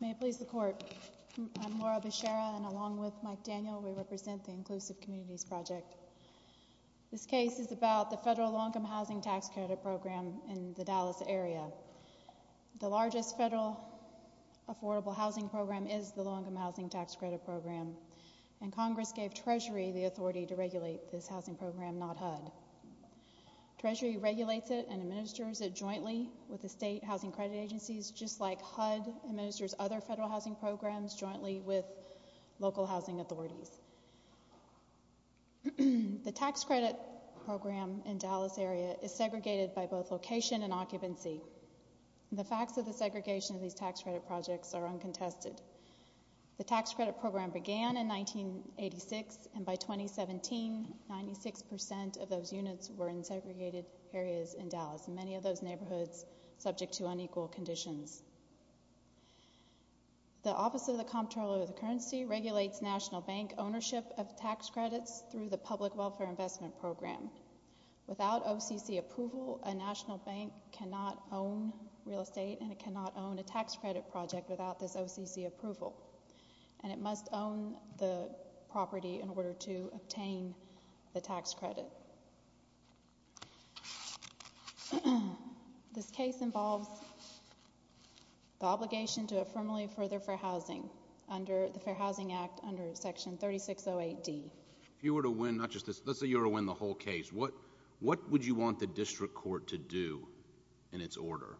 May it please the court, I'm Laura Beshara and along with Mike Daniel we represent the Inclusive Communities Project. This case is about the Federal Low Income Housing Tax Credit Program in the Dallas area. The largest federal affordable housing program is the Low Income Housing Tax Credit Program and Congress gave Treasury the authority to regulate this housing program, not HUD. Treasury regulates it and administers it jointly with the state housing credit agencies just like HUD administers other federal housing programs jointly with local housing authorities. The tax credit program in the Dallas area is segregated by both location and occupancy. The facts of the segregation of these tax credit projects are uncontested. The tax credit program began in 1986 and by 2017 96% of those units were in segregated areas in Dallas and many of those neighborhoods subject to unequal conditions. The Office of the Comptroller of the Currency regulates national bank ownership of tax credits through the Public Welfare Investment Program. Without OCC approval a national bank cannot own real estate and it cannot own a tax credit project without this OCC approval and it must own the property in order to obtain the tax credit. This case involves the obligation to affirmatively further fair housing under the Fair Housing Act under Section 3608D. If you were to win, not just this, let's say you were to win the whole case, what would you want the district court to do in its order?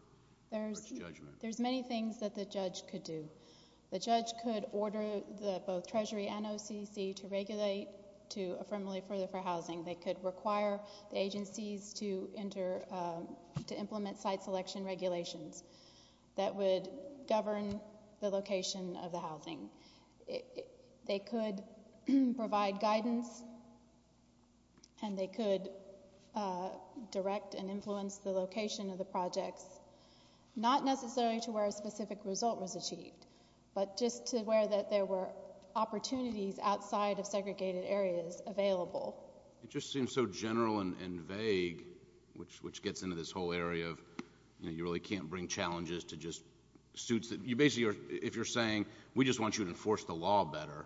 There's many things that the judge could do. The judge could order both Treasury and OCC to regulate to affirmatively further fair housing. They could require the agencies to implement site selection regulations that would govern the location of the housing. They could provide guidance and they could direct and influence the location of the projects, not necessarily to where a specific result was achieved, but just to where there were opportunities outside of segregated areas available. It just seems so general and vague, which gets into this whole area of, you know, you really can't bring challenges to just suits. You basically are, if you're saying, we just want you to enforce the law better,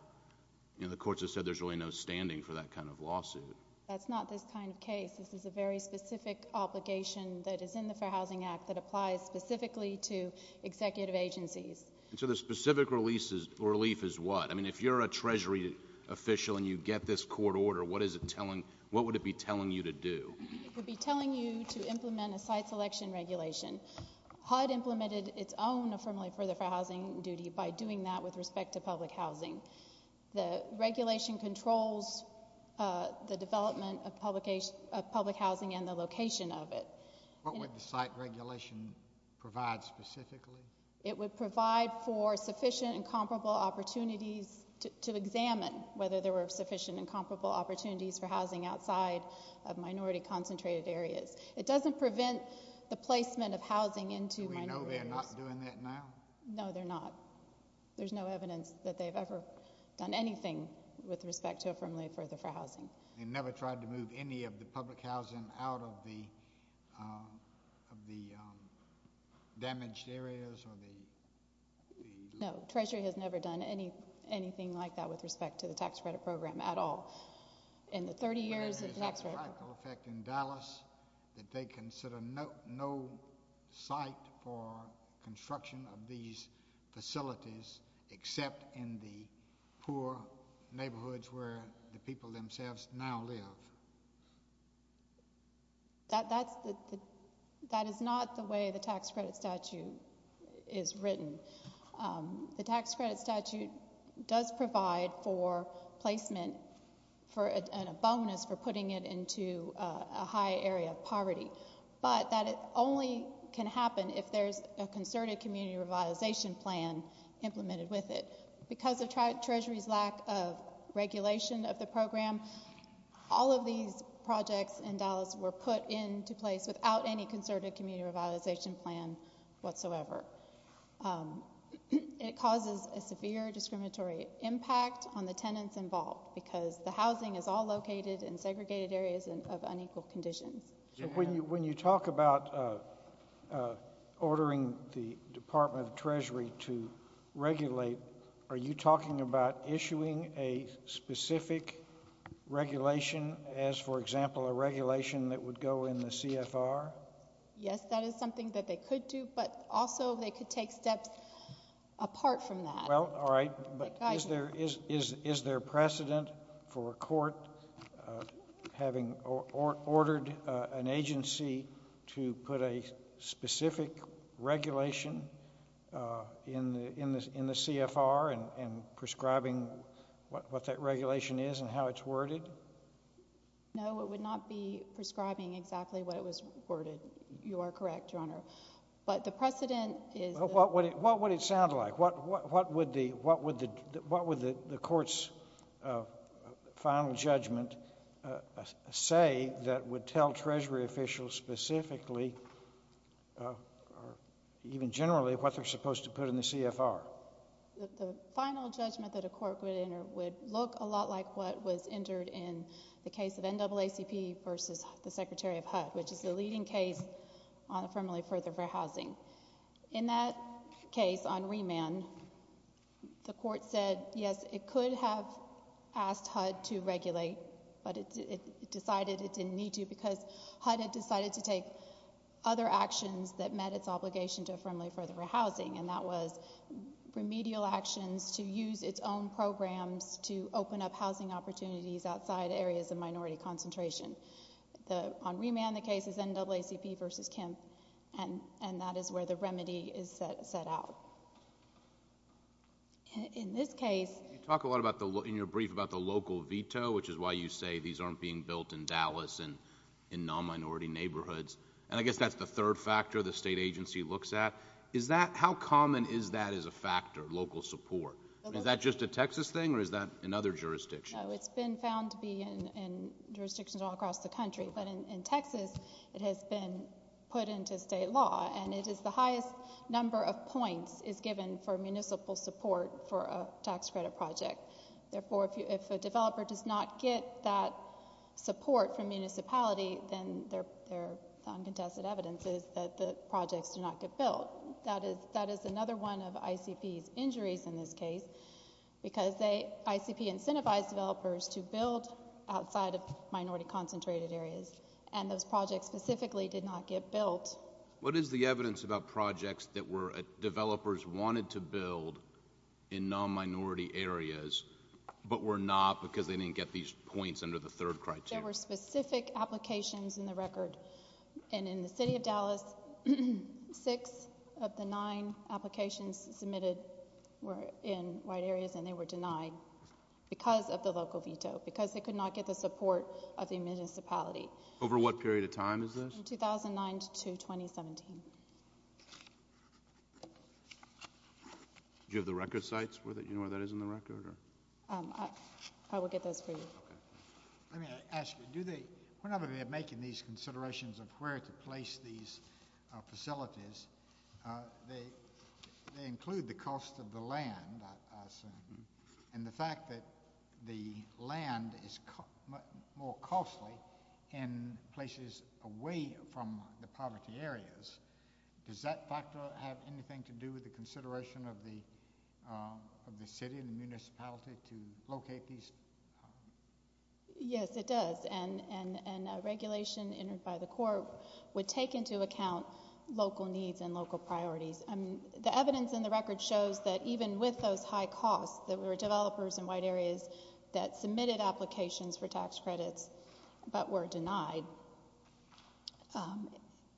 you know, the courts have said there's really no standing for that kind of lawsuit. That's not this kind of case. This is a very specific obligation that is in the Fair Housing Act that applies specifically to executive agencies. And so the specific relief is what? I mean, if you're a Treasury official and you get this court order, what is it telling, what would it be telling you to do? It would be telling you to implement a site selection regulation. HUD implemented its own affirmatively further fair housing duty by doing that with respect to public housing. The regulation controls the development of public housing and the location of it. What would the site regulation provide specifically? It would provide for sufficient and comparable opportunities to examine whether there were sufficient and comparable opportunities for housing outside of minority concentrated areas. It doesn't prevent the placement of housing into minority areas. Do we know they're not doing that now? No, they're not. There's no evidence that they've ever done anything with respect to affirmatively further fair housing. They never tried to move any of the public housing out of the damaged areas or the? No, Treasury has never done anything like that with respect to the tax credit program at all. In the 30 years of the tax credit program. Whether there's a psychological effect in Dallas that they consider no site for construction of these facilities except in the poor neighborhoods where the people themselves now live? That is not the way the tax credit statute is written. The tax credit statute does provide for placement and a bonus for putting it into a high area of poverty. But that it only can happen if there's a concerted community revitalization plan implemented with it. Because of Treasury's lack of regulation of the program, all of these projects in Dallas were put into place without any concerted community revitalization plan whatsoever. It causes a severe discriminatory impact on the tenants involved because the housing is all located in segregated areas of unequal conditions. When you talk about ordering the Department of Treasury to regulate, are you talking about issuing a specific regulation as, for example, a regulation that would go in the CFR? Yes, that is something that they could do, but also they could take steps apart from that. Well, all right. But is there precedent for a court having ordered an agency to put a specific regulation in the CFR and prescribing what that regulation is and how it's worded? No, it would not be prescribing exactly what it was worded. You are correct, Your Honor. But the precedent is— Well, what would it sound like? What would the court's final judgment say that would tell Treasury officials specifically, even generally, what they're supposed to put in the CFR? The final judgment that a court would enter would look a lot like what was entered in the case of NAACP versus the Secretary of HUD, which is the leading case on affirmatively further housing. In that case, on remand, the court said, yes, it could have asked HUD to regulate, but it decided it didn't need to because HUD had decided to take other actions that met its obligation to affirmatively further housing, and that was remedial actions to use its own programs to open up housing opportunities outside areas of minority concentration. On remand, the case is NAACP versus Kemp, and that is where the remedy is set out. In this case— You talk a lot in your brief about the local veto, which is why you say these aren't being built in Dallas and in non-minority neighborhoods, and I guess that's the third factor the state agency looks at. How common is that as a factor, local support? Is that just a Texas thing, or is that in other jurisdictions? It's been found to be in jurisdictions all across the country, but in Texas, it has been put into state law, and it is the highest number of points is given for municipal support for a tax credit project. Therefore, if a developer does not get that support from municipality, then their uncontested evidence is that the projects do not get built. That is another one of ICP's injuries in this case, because ICP incentivized developers to build outside of minority-concentrated areas, and those projects specifically did not get built. What is the evidence about projects that developers wanted to build in non-minority areas but were not because they didn't get these points under the third criteria? There were specific applications in the record, and in the city of Dallas, six of the nine applications submitted were in white areas, and they were denied because of the local veto, because they could not get the support of the municipality. Over what period of time is this? 2009 to 2017. Do you have the record sites where that is in the record? I will get those for you. Let me ask you, whenever they're making these considerations of where to place these facilities, they include the cost of the land, I assume, and the fact that the land is more costly in places away from the poverty areas, does that factor have anything to do with the consideration of the city and the municipality to locate these? Yes, it does, and a regulation entered by the court would take into account local needs and local priorities. The evidence in the record shows that even with those high costs, there were developers in white areas that submitted applications for tax credits but were denied,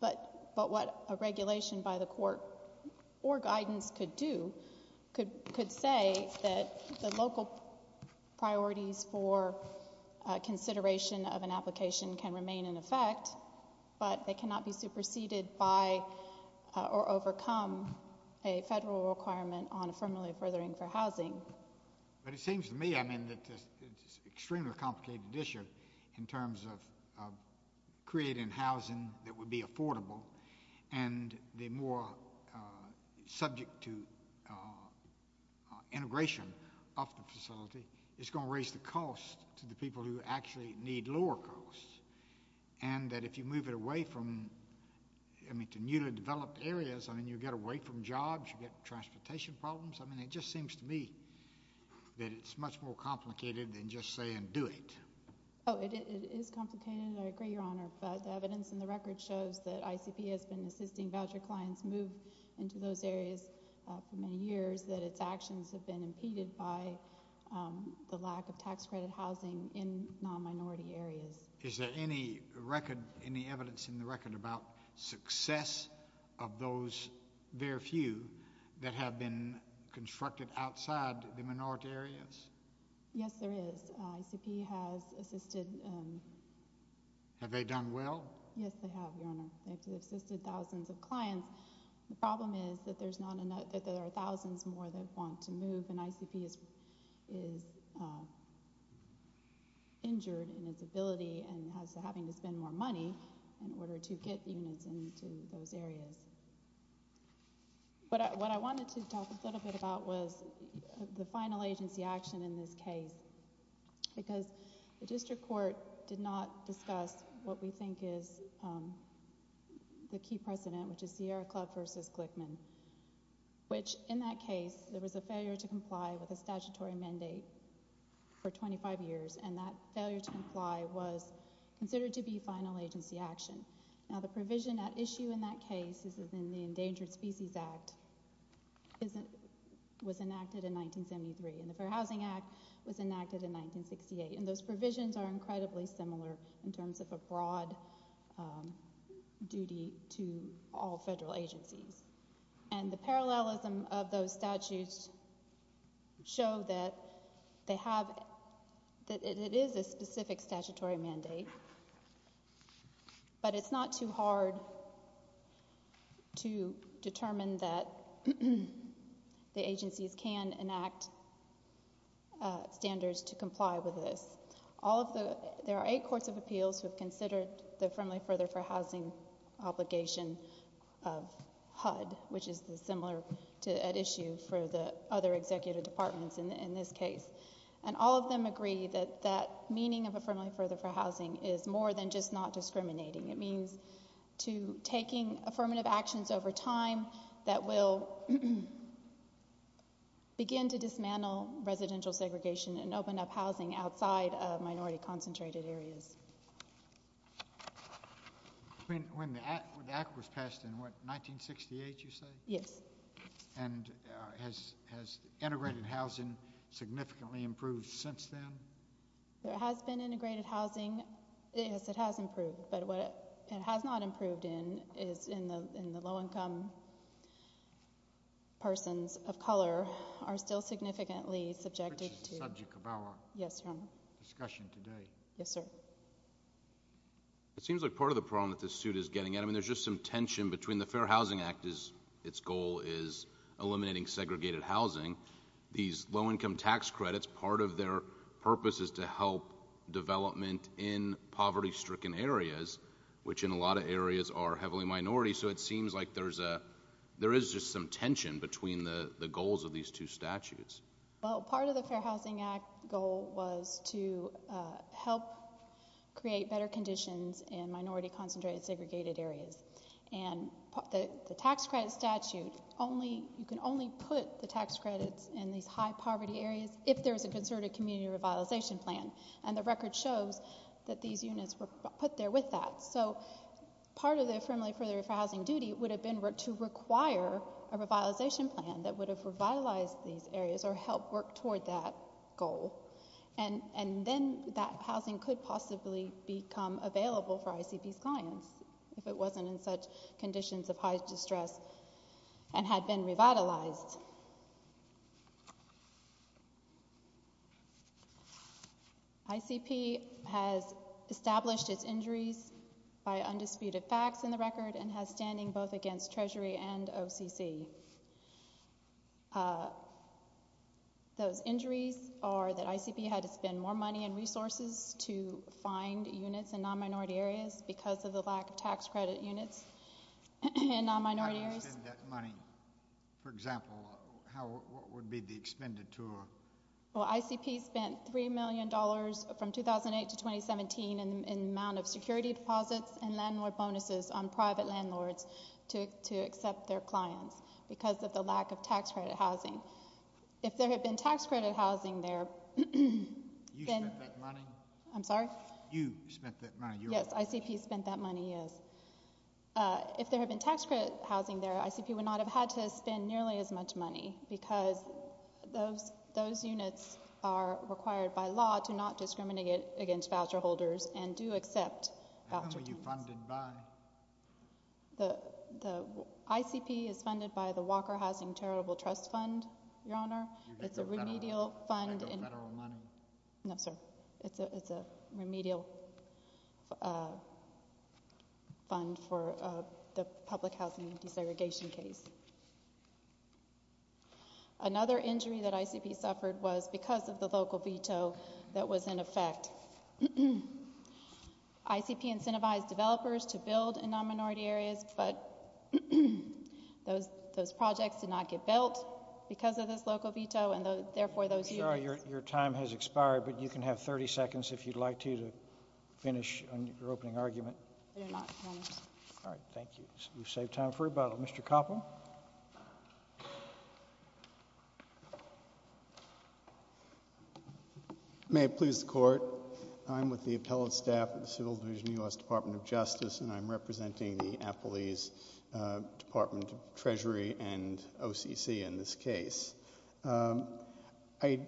but what a regulation by the court or guidance could do could say that the local priorities for consideration of an application can remain in effect, but they cannot be superseded by or overcome a federal requirement on affirmatively furthering for housing. But it seems to me, I mean, that this is an extremely complicated issue in terms of creating housing that would be affordable, and the more subject to integration of the facility, it's going to raise the cost to the people who actually need lower costs, and that if you move it away from, I mean, to newly developed areas, I mean, you get away from jobs, you get transportation problems. I mean, it just seems to me that it's much more complicated than just saying do it. Oh, it is complicated, and I agree, Your Honor, but the evidence in the record shows that ICP has been assisting voucher clients move into those areas for many years, that its actions have been impeded by the lack of tax credit housing in non-minority areas. Is there any record, any evidence in the record about success of those very few that have been constructed outside the minority areas? Yes, there is. ICP has assisted. Have they done well? Yes, they have, Your Honor. They've assisted thousands of clients. The problem is that there's not enough, that there are thousands more that want to move, and ICP is injured in its ability and is having to spend more money in order to get units into those areas. But what I wanted to talk a little bit about was the final agency action in this case, because the district court did not discuss what we think is the key precedent, which is Sierra Club versus Glickman, which, in that case, there was a failure to comply with a statutory mandate for 25 years, and that failure to comply was considered to be final agency action. Now, the provision at issue in that case is that the Endangered Species Act was enacted in 1973, and the Fair Housing Act was enacted in 1968, and those provisions are incredibly similar in terms of a broad duty to all federal agencies. And the parallelism of those statutes show that they have, that it is a specific statutory mandate, but it's not too hard to determine that the agencies can enact standards to comply with this. All of the, there are eight courts of appeals who have considered the Affirmatively Further for Housing obligation of HUD, which is similar at issue for the other executive departments in this case, and all of them agree that that meaning of Affirmatively Further for Housing is more than just not discriminating. It means to taking affirmative actions over time that will begin to dismantle residential segregation and open up housing outside of minority-concentrated areas. When the act was passed in, what, 1968, you say? Yes. And has integrated housing significantly improved since then? There has been integrated housing. Yes, it has improved, but what it has not improved in is in the low-income persons of color are still significantly subjected to— Which is the subject of our discussion today. Yes, sir. It seems like part of the problem that this suit is getting at, I mean, there's just some tension between the Fair Housing Act. Its goal is eliminating segregated housing. These low-income tax credits, part of their purpose is to help development in poverty-stricken areas, which in a lot of areas are heavily minority, so it seems like there is just some tension between the goals of these two statutes. Well, part of the Fair Housing Act goal was to help create better conditions in minority-concentrated segregated areas. And the tax credit statute, you can only put the tax credits in these high-poverty areas if there is a concerted community revitalization plan, and the record shows that these units were put there with that. So part of the affirmative for the Fair Housing duty would have been to require a revitalization plan that would have revitalized these areas or helped work toward that goal. And then that housing could possibly become available for ICP's clients if it wasn't in such conditions of high distress and had been revitalized. ICP has established its injuries by undisputed facts in the record and has standing both against Treasury and OCC. Those injuries are that ICP had to spend more money and resources to find units in non-minority areas because of the lack of tax credit units in non-minority areas. How do you spend that money? For example, what would be the expenditure? Well, ICP spent $3 million from 2008 to 2017 in the amount of security deposits and landlord bonuses on private landlords to accept their clients because of the lack of tax credit housing. If there had been tax credit housing there... You spent that money? I'm sorry? You spent that money. Yes, ICP spent that money, yes. If there had been tax credit housing there, ICP would not have had to spend nearly as much money because those units are required by law to not discriminate against voucher holders and do accept voucher teams. How many were you funded by? The ICP is funded by the Walker Housing Charitable Trust Fund, Your Honor. It's a remedial fund... You get the federal money. No, sir. It's a remedial fund for the public housing desegregation case. Another injury that ICP suffered was because of the local veto that was in effect. ICP incentivized developers to build in non-minority areas, but those projects did not get built because of this local veto, and therefore those units... Your time has expired, but you can have 30 seconds if you'd like to to finish your opening argument. I do not promise. All right, thank you. You've saved time for rebuttal. Mr. Koppel? May it please the Court. I'm with the appellate staff at the Civil Division of the U.S. Department of Justice, and I'm representing the Appellees, Department of Treasury, and OCC in this case. I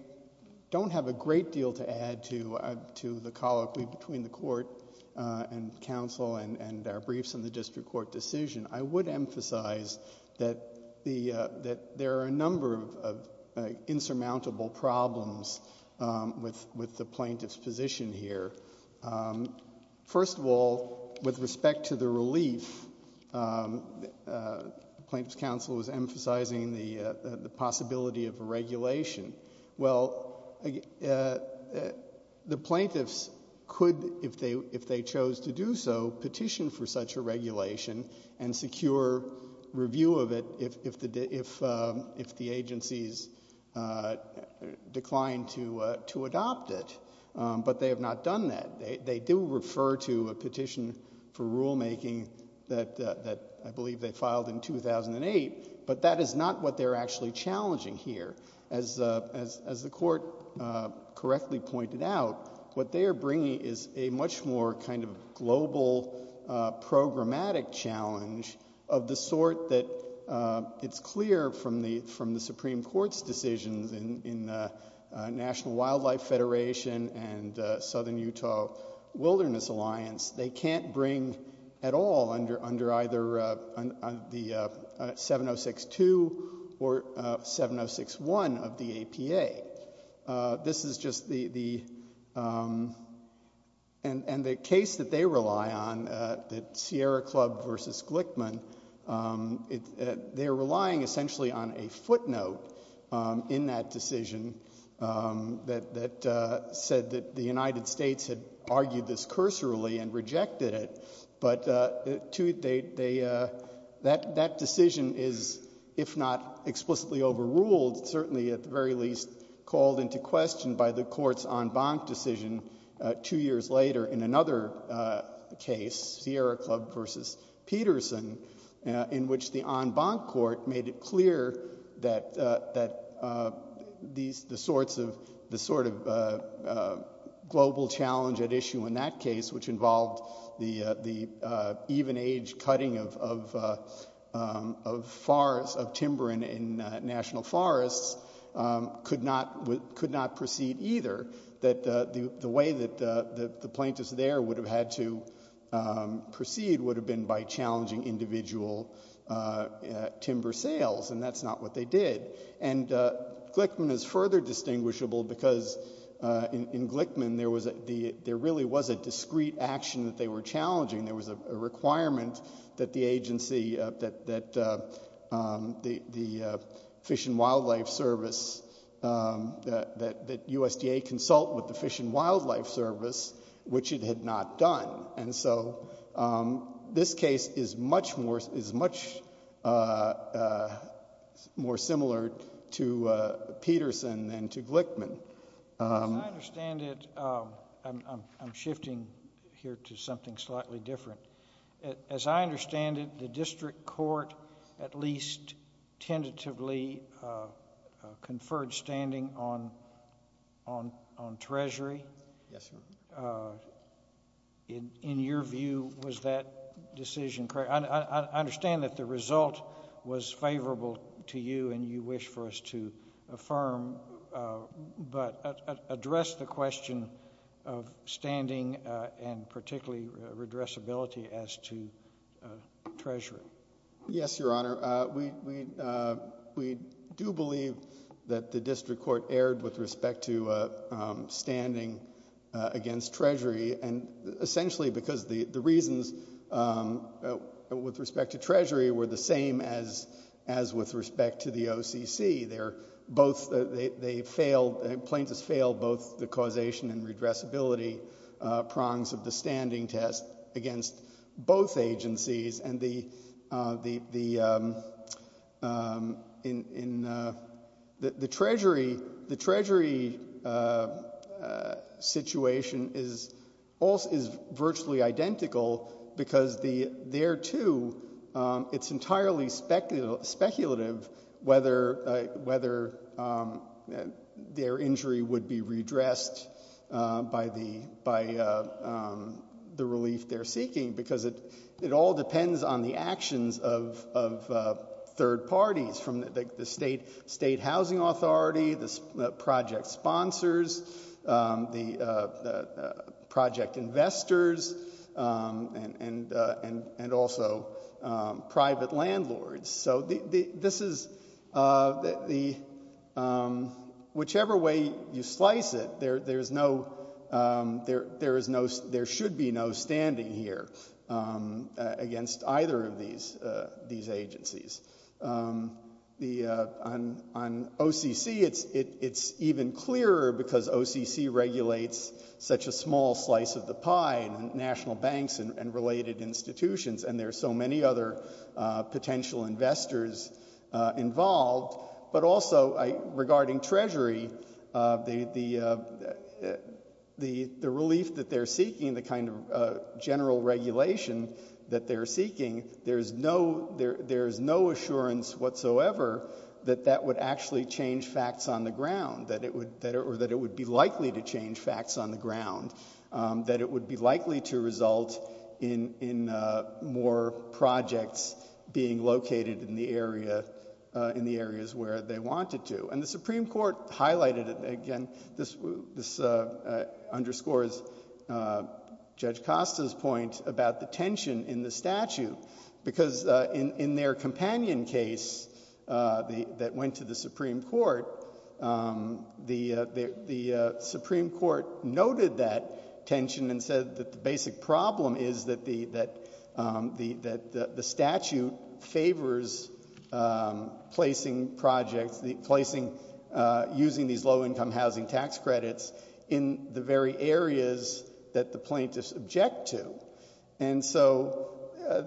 don't have a great deal to add to the colloquy between the Court and counsel and our briefs on the district court decision. I would emphasize that there are a number of insurmountable problems with the plaintiff's position here. First of all, with respect to the relief, plaintiff's counsel was emphasizing the possibility of a regulation. Well, the plaintiffs could, if they chose to do so, petition for such a regulation and secure review of it if the agencies declined to adopt it, but they have not done that. They do refer to a petition for rulemaking that I believe they filed in 2008, but that is not what they're actually challenging here. As the Court correctly pointed out, what they are bringing is a much more kind of global, programmatic challenge of the sort that it's clear from the Supreme Court's decisions in the National Wildlife Federation and Southern Utah Wilderness Alliance, they can't bring at all under either the 706-2 or 706-1 of the APA. This is just the, and the case that they rely on, the Sierra Club v. Glickman, they're relying essentially on a footnote in that decision that said that the United States had argued this cursorily and rejected it, but that decision is, if not explicitly overruled, certainly at the very least called into question by the Court's en banc decision two years later in another case, Sierra Club v. Peterson, in which the en banc court made it clear that the sort of global challenge at issue in that case, which involved the even-aged cutting of timber in national forests, could not proceed either, that the way that the plaintiffs there would have had to proceed would have been by challenging individual timber sales, and that's not what they did. And Glickman is further distinguishable because in Glickman there really was a discreet action that they were challenging. There was a requirement that the agency, that the Fish and Wildlife Service, that USDA consult with the Fish and Wildlife Service, which it had not done. And so this case is much more similar to Peterson than to Glickman. As I understand it, I'm shifting here to something slightly different. As I understand it, the district court at least tentatively conferred standing on treasury. Yes, sir. In your view, was that decision correct? I understand that the result was favorable to you and you wish for us to affirm, but address the question of standing and particularly redressability as to treasury. Yes, Your Honor. We do believe that the district court erred with respect to standing against treasury, and essentially because the reasons with respect to treasury were the same as with respect to the OCC. Plaintiffs failed both the causation and redressability prongs of the standing test against both agencies, and the treasury situation is virtually identical because there, too, it's entirely speculative whether their injury would be redressed by the relief they're seeking because it all depends on the actions of third parties, from the state housing authority, the project sponsors, the project investors, and also private landlords. Whichever way you slice it, there should be no standing here against either of these agencies. On OCC, it's even clearer because OCC regulates such a small slice of the pie, and national banks and related institutions, and there are so many other potential investors involved. But also, regarding treasury, the relief that they're seeking, the kind of general regulation that they're seeking, there's no assurance whatsoever that that would actually change facts on the ground, or that it would be likely to change facts on the ground, that it would be likely to result in more projects being located in the areas where they wanted to. And the Supreme Court highlighted it again. This underscores Judge Costa's point about the tension in the statute because in their companion case that went to the Supreme Court, the Supreme Court noted that tension and said that the basic problem is that the statute favors placing projects, using these low-income housing tax credits, in the very areas that the plaintiffs object to. And so,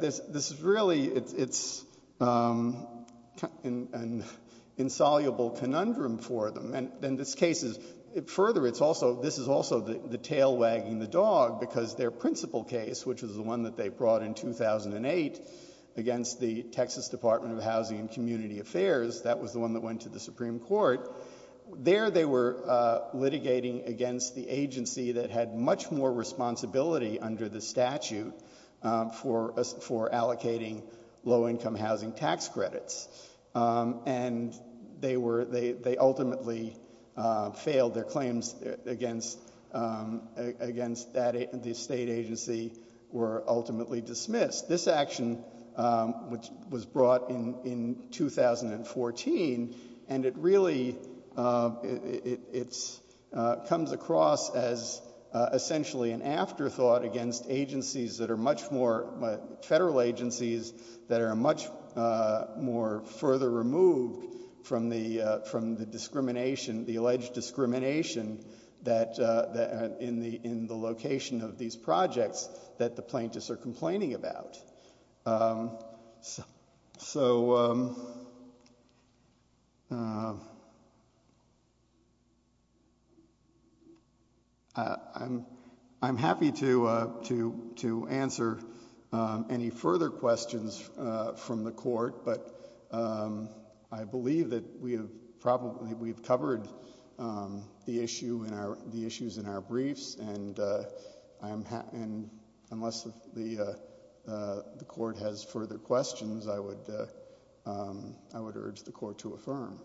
this is really, it's an insoluble conundrum for them. And this case is, further, this is also the tail wagging the dog because their principal case, which is the one that they brought in 2008 against the Texas Department of Housing and Community Affairs, that was the one that went to the Supreme Court, there they were litigating against the agency that had much more responsibility under the statute for allocating low-income housing tax credits. And they ultimately failed. Their claims against the state agency were ultimately dismissed. This action, which was brought in 2014, and it really comes across as essentially an afterthought against agencies that are much more, federal agencies that are much more further removed from the discrimination, the alleged discrimination in the location of these projects that the plaintiffs are complaining about. So, I'm happy to answer any further questions from the court, but I believe that we have covered the issues in our briefs, and unless the court has further questions, I would urge the court to affirm.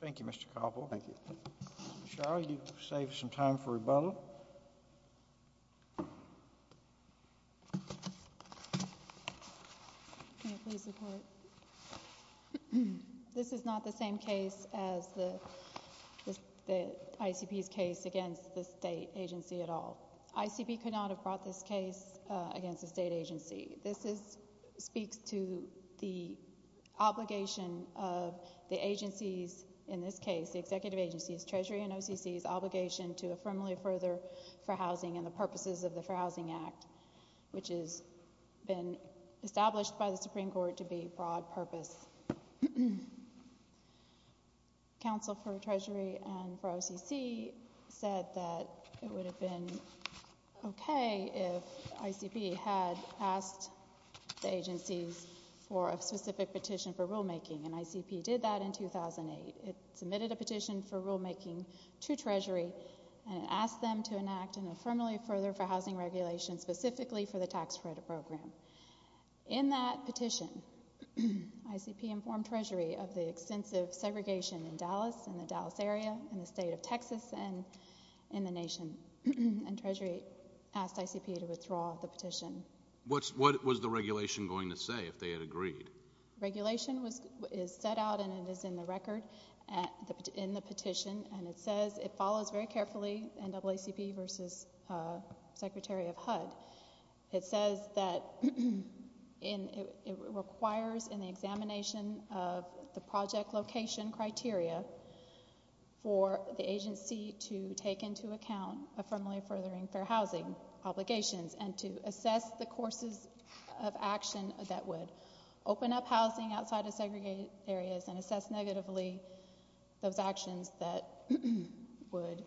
Thank you, Mr. Cobble. Thank you. Cheryl, you saved some time for rebuttal. This is not the same case as the ICP's case against the state agency at all. ICP could not have brought this case against the state agency. This speaks to the obligation of the agency's, in this case, the executive agency's, Treasury and OCC's obligation to affirmally further for housing and the purposes of the For Housing Act, which has been established by the Supreme Court to be broad purpose. Council for Treasury and for OCC said that it would have been okay if ICP had asked the agencies for a specific petition for rulemaking, and ICP did that in 2008. It submitted a petition for rulemaking to Treasury, and it asked them to enact an affirmably further for housing regulation, specifically for the tax credit program. In that petition, ICP informed Treasury of the extensive segregation in Dallas, in the Dallas area, in the state of Texas, and in the nation, and Treasury asked ICP to withdraw the petition. What was the regulation going to say if they had agreed? Regulation is set out, and it is in the record in the petition, and it says it follows very carefully NAACP versus Secretary of HUD. It says that it requires in the examination of the project location criteria for the agency to take into account affirmably furthering for housing obligations and to assess the courses of action that would open up housing outside of segregated areas and assess negatively those actions that would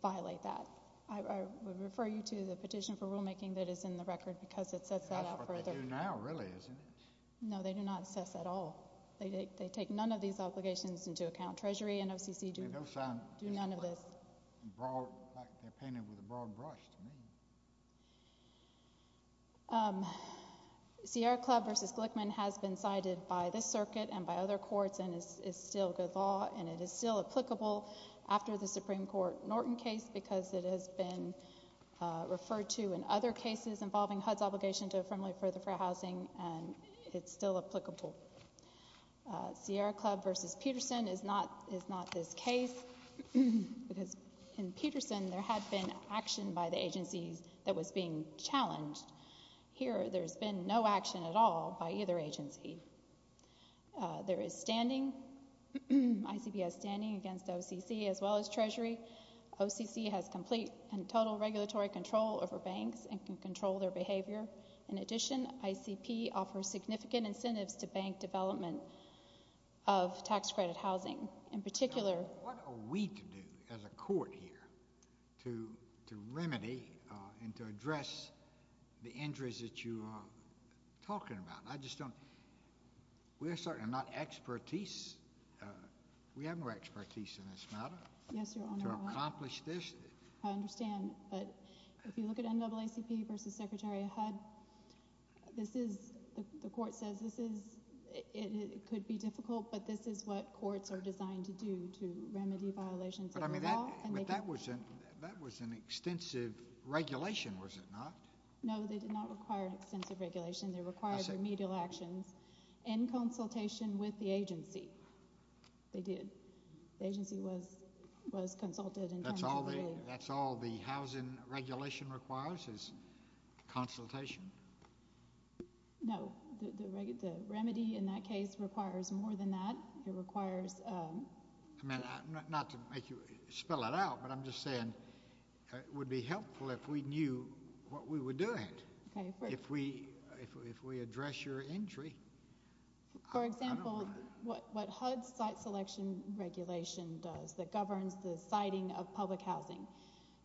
violate that. I would refer you to the petition for rulemaking that is in the record because it sets that out further. That's what they do now, really, isn't it? No, they do not assess at all. They take none of these obligations into account. Treasury and OCC do none of this. It's like they're painting with a broad brush to me. Sierra Club versus Glickman has been cited by this circuit and by other courts and is still good law, and it is still applicable after the Supreme Court Norton case because it has been referred to in other cases involving HUD's obligation to affirmably further for housing, and it's still applicable. Sierra Club versus Peterson is not this case because in Peterson there had been action by the agency that was being challenged. Here there's been no action at all by either agency. There is standing, ICPS standing against OCC as well as Treasury. OCC has complete and total regulatory control over banks and can control their behavior. In addition, ICP offers significant incentives to bank development of tax credit housing. What are we to do as a court here to remedy and to address the injuries that you are talking about? We're certainly not expertise. We have no expertise in this matter to accomplish this. I understand, but if you look at NAACP versus Secretary of HUD, the court says it could be difficult, but this is what courts are designed to do to remedy violations of the law. But that was an extensive regulation, was it not? No, they did not require an extensive regulation. They required remedial actions and consultation with the agency. They did. The agency was consulted in terms of earlier. That's all the housing regulation requires is consultation? No. The remedy in that case requires more than that. It requires— Not to make you spell it out, but I'm just saying it would be helpful if we knew what we were doing. If we address your injury. For example, what HUD's site selection regulation does that governs the siting of public housing,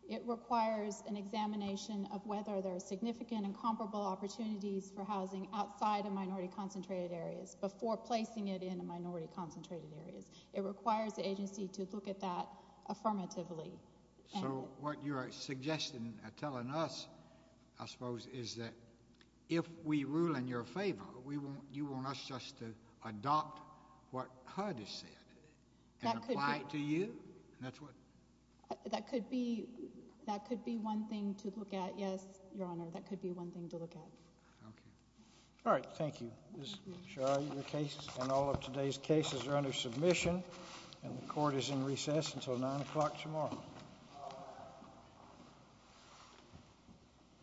it requires an examination of whether there are significant and comparable opportunities for housing outside of minority-concentrated areas before placing it in minority-concentrated areas. It requires the agency to look at that affirmatively. So what you're suggesting and telling us, I suppose, is that if we rule in your favor, you want us just to adopt what HUD has said and apply it to you? That could be one thing to look at, yes, Your Honor. That could be one thing to look at. Okay. All right. Thank you. And all of today's cases are under submission, and the court is in recess until 9 o'clock tomorrow.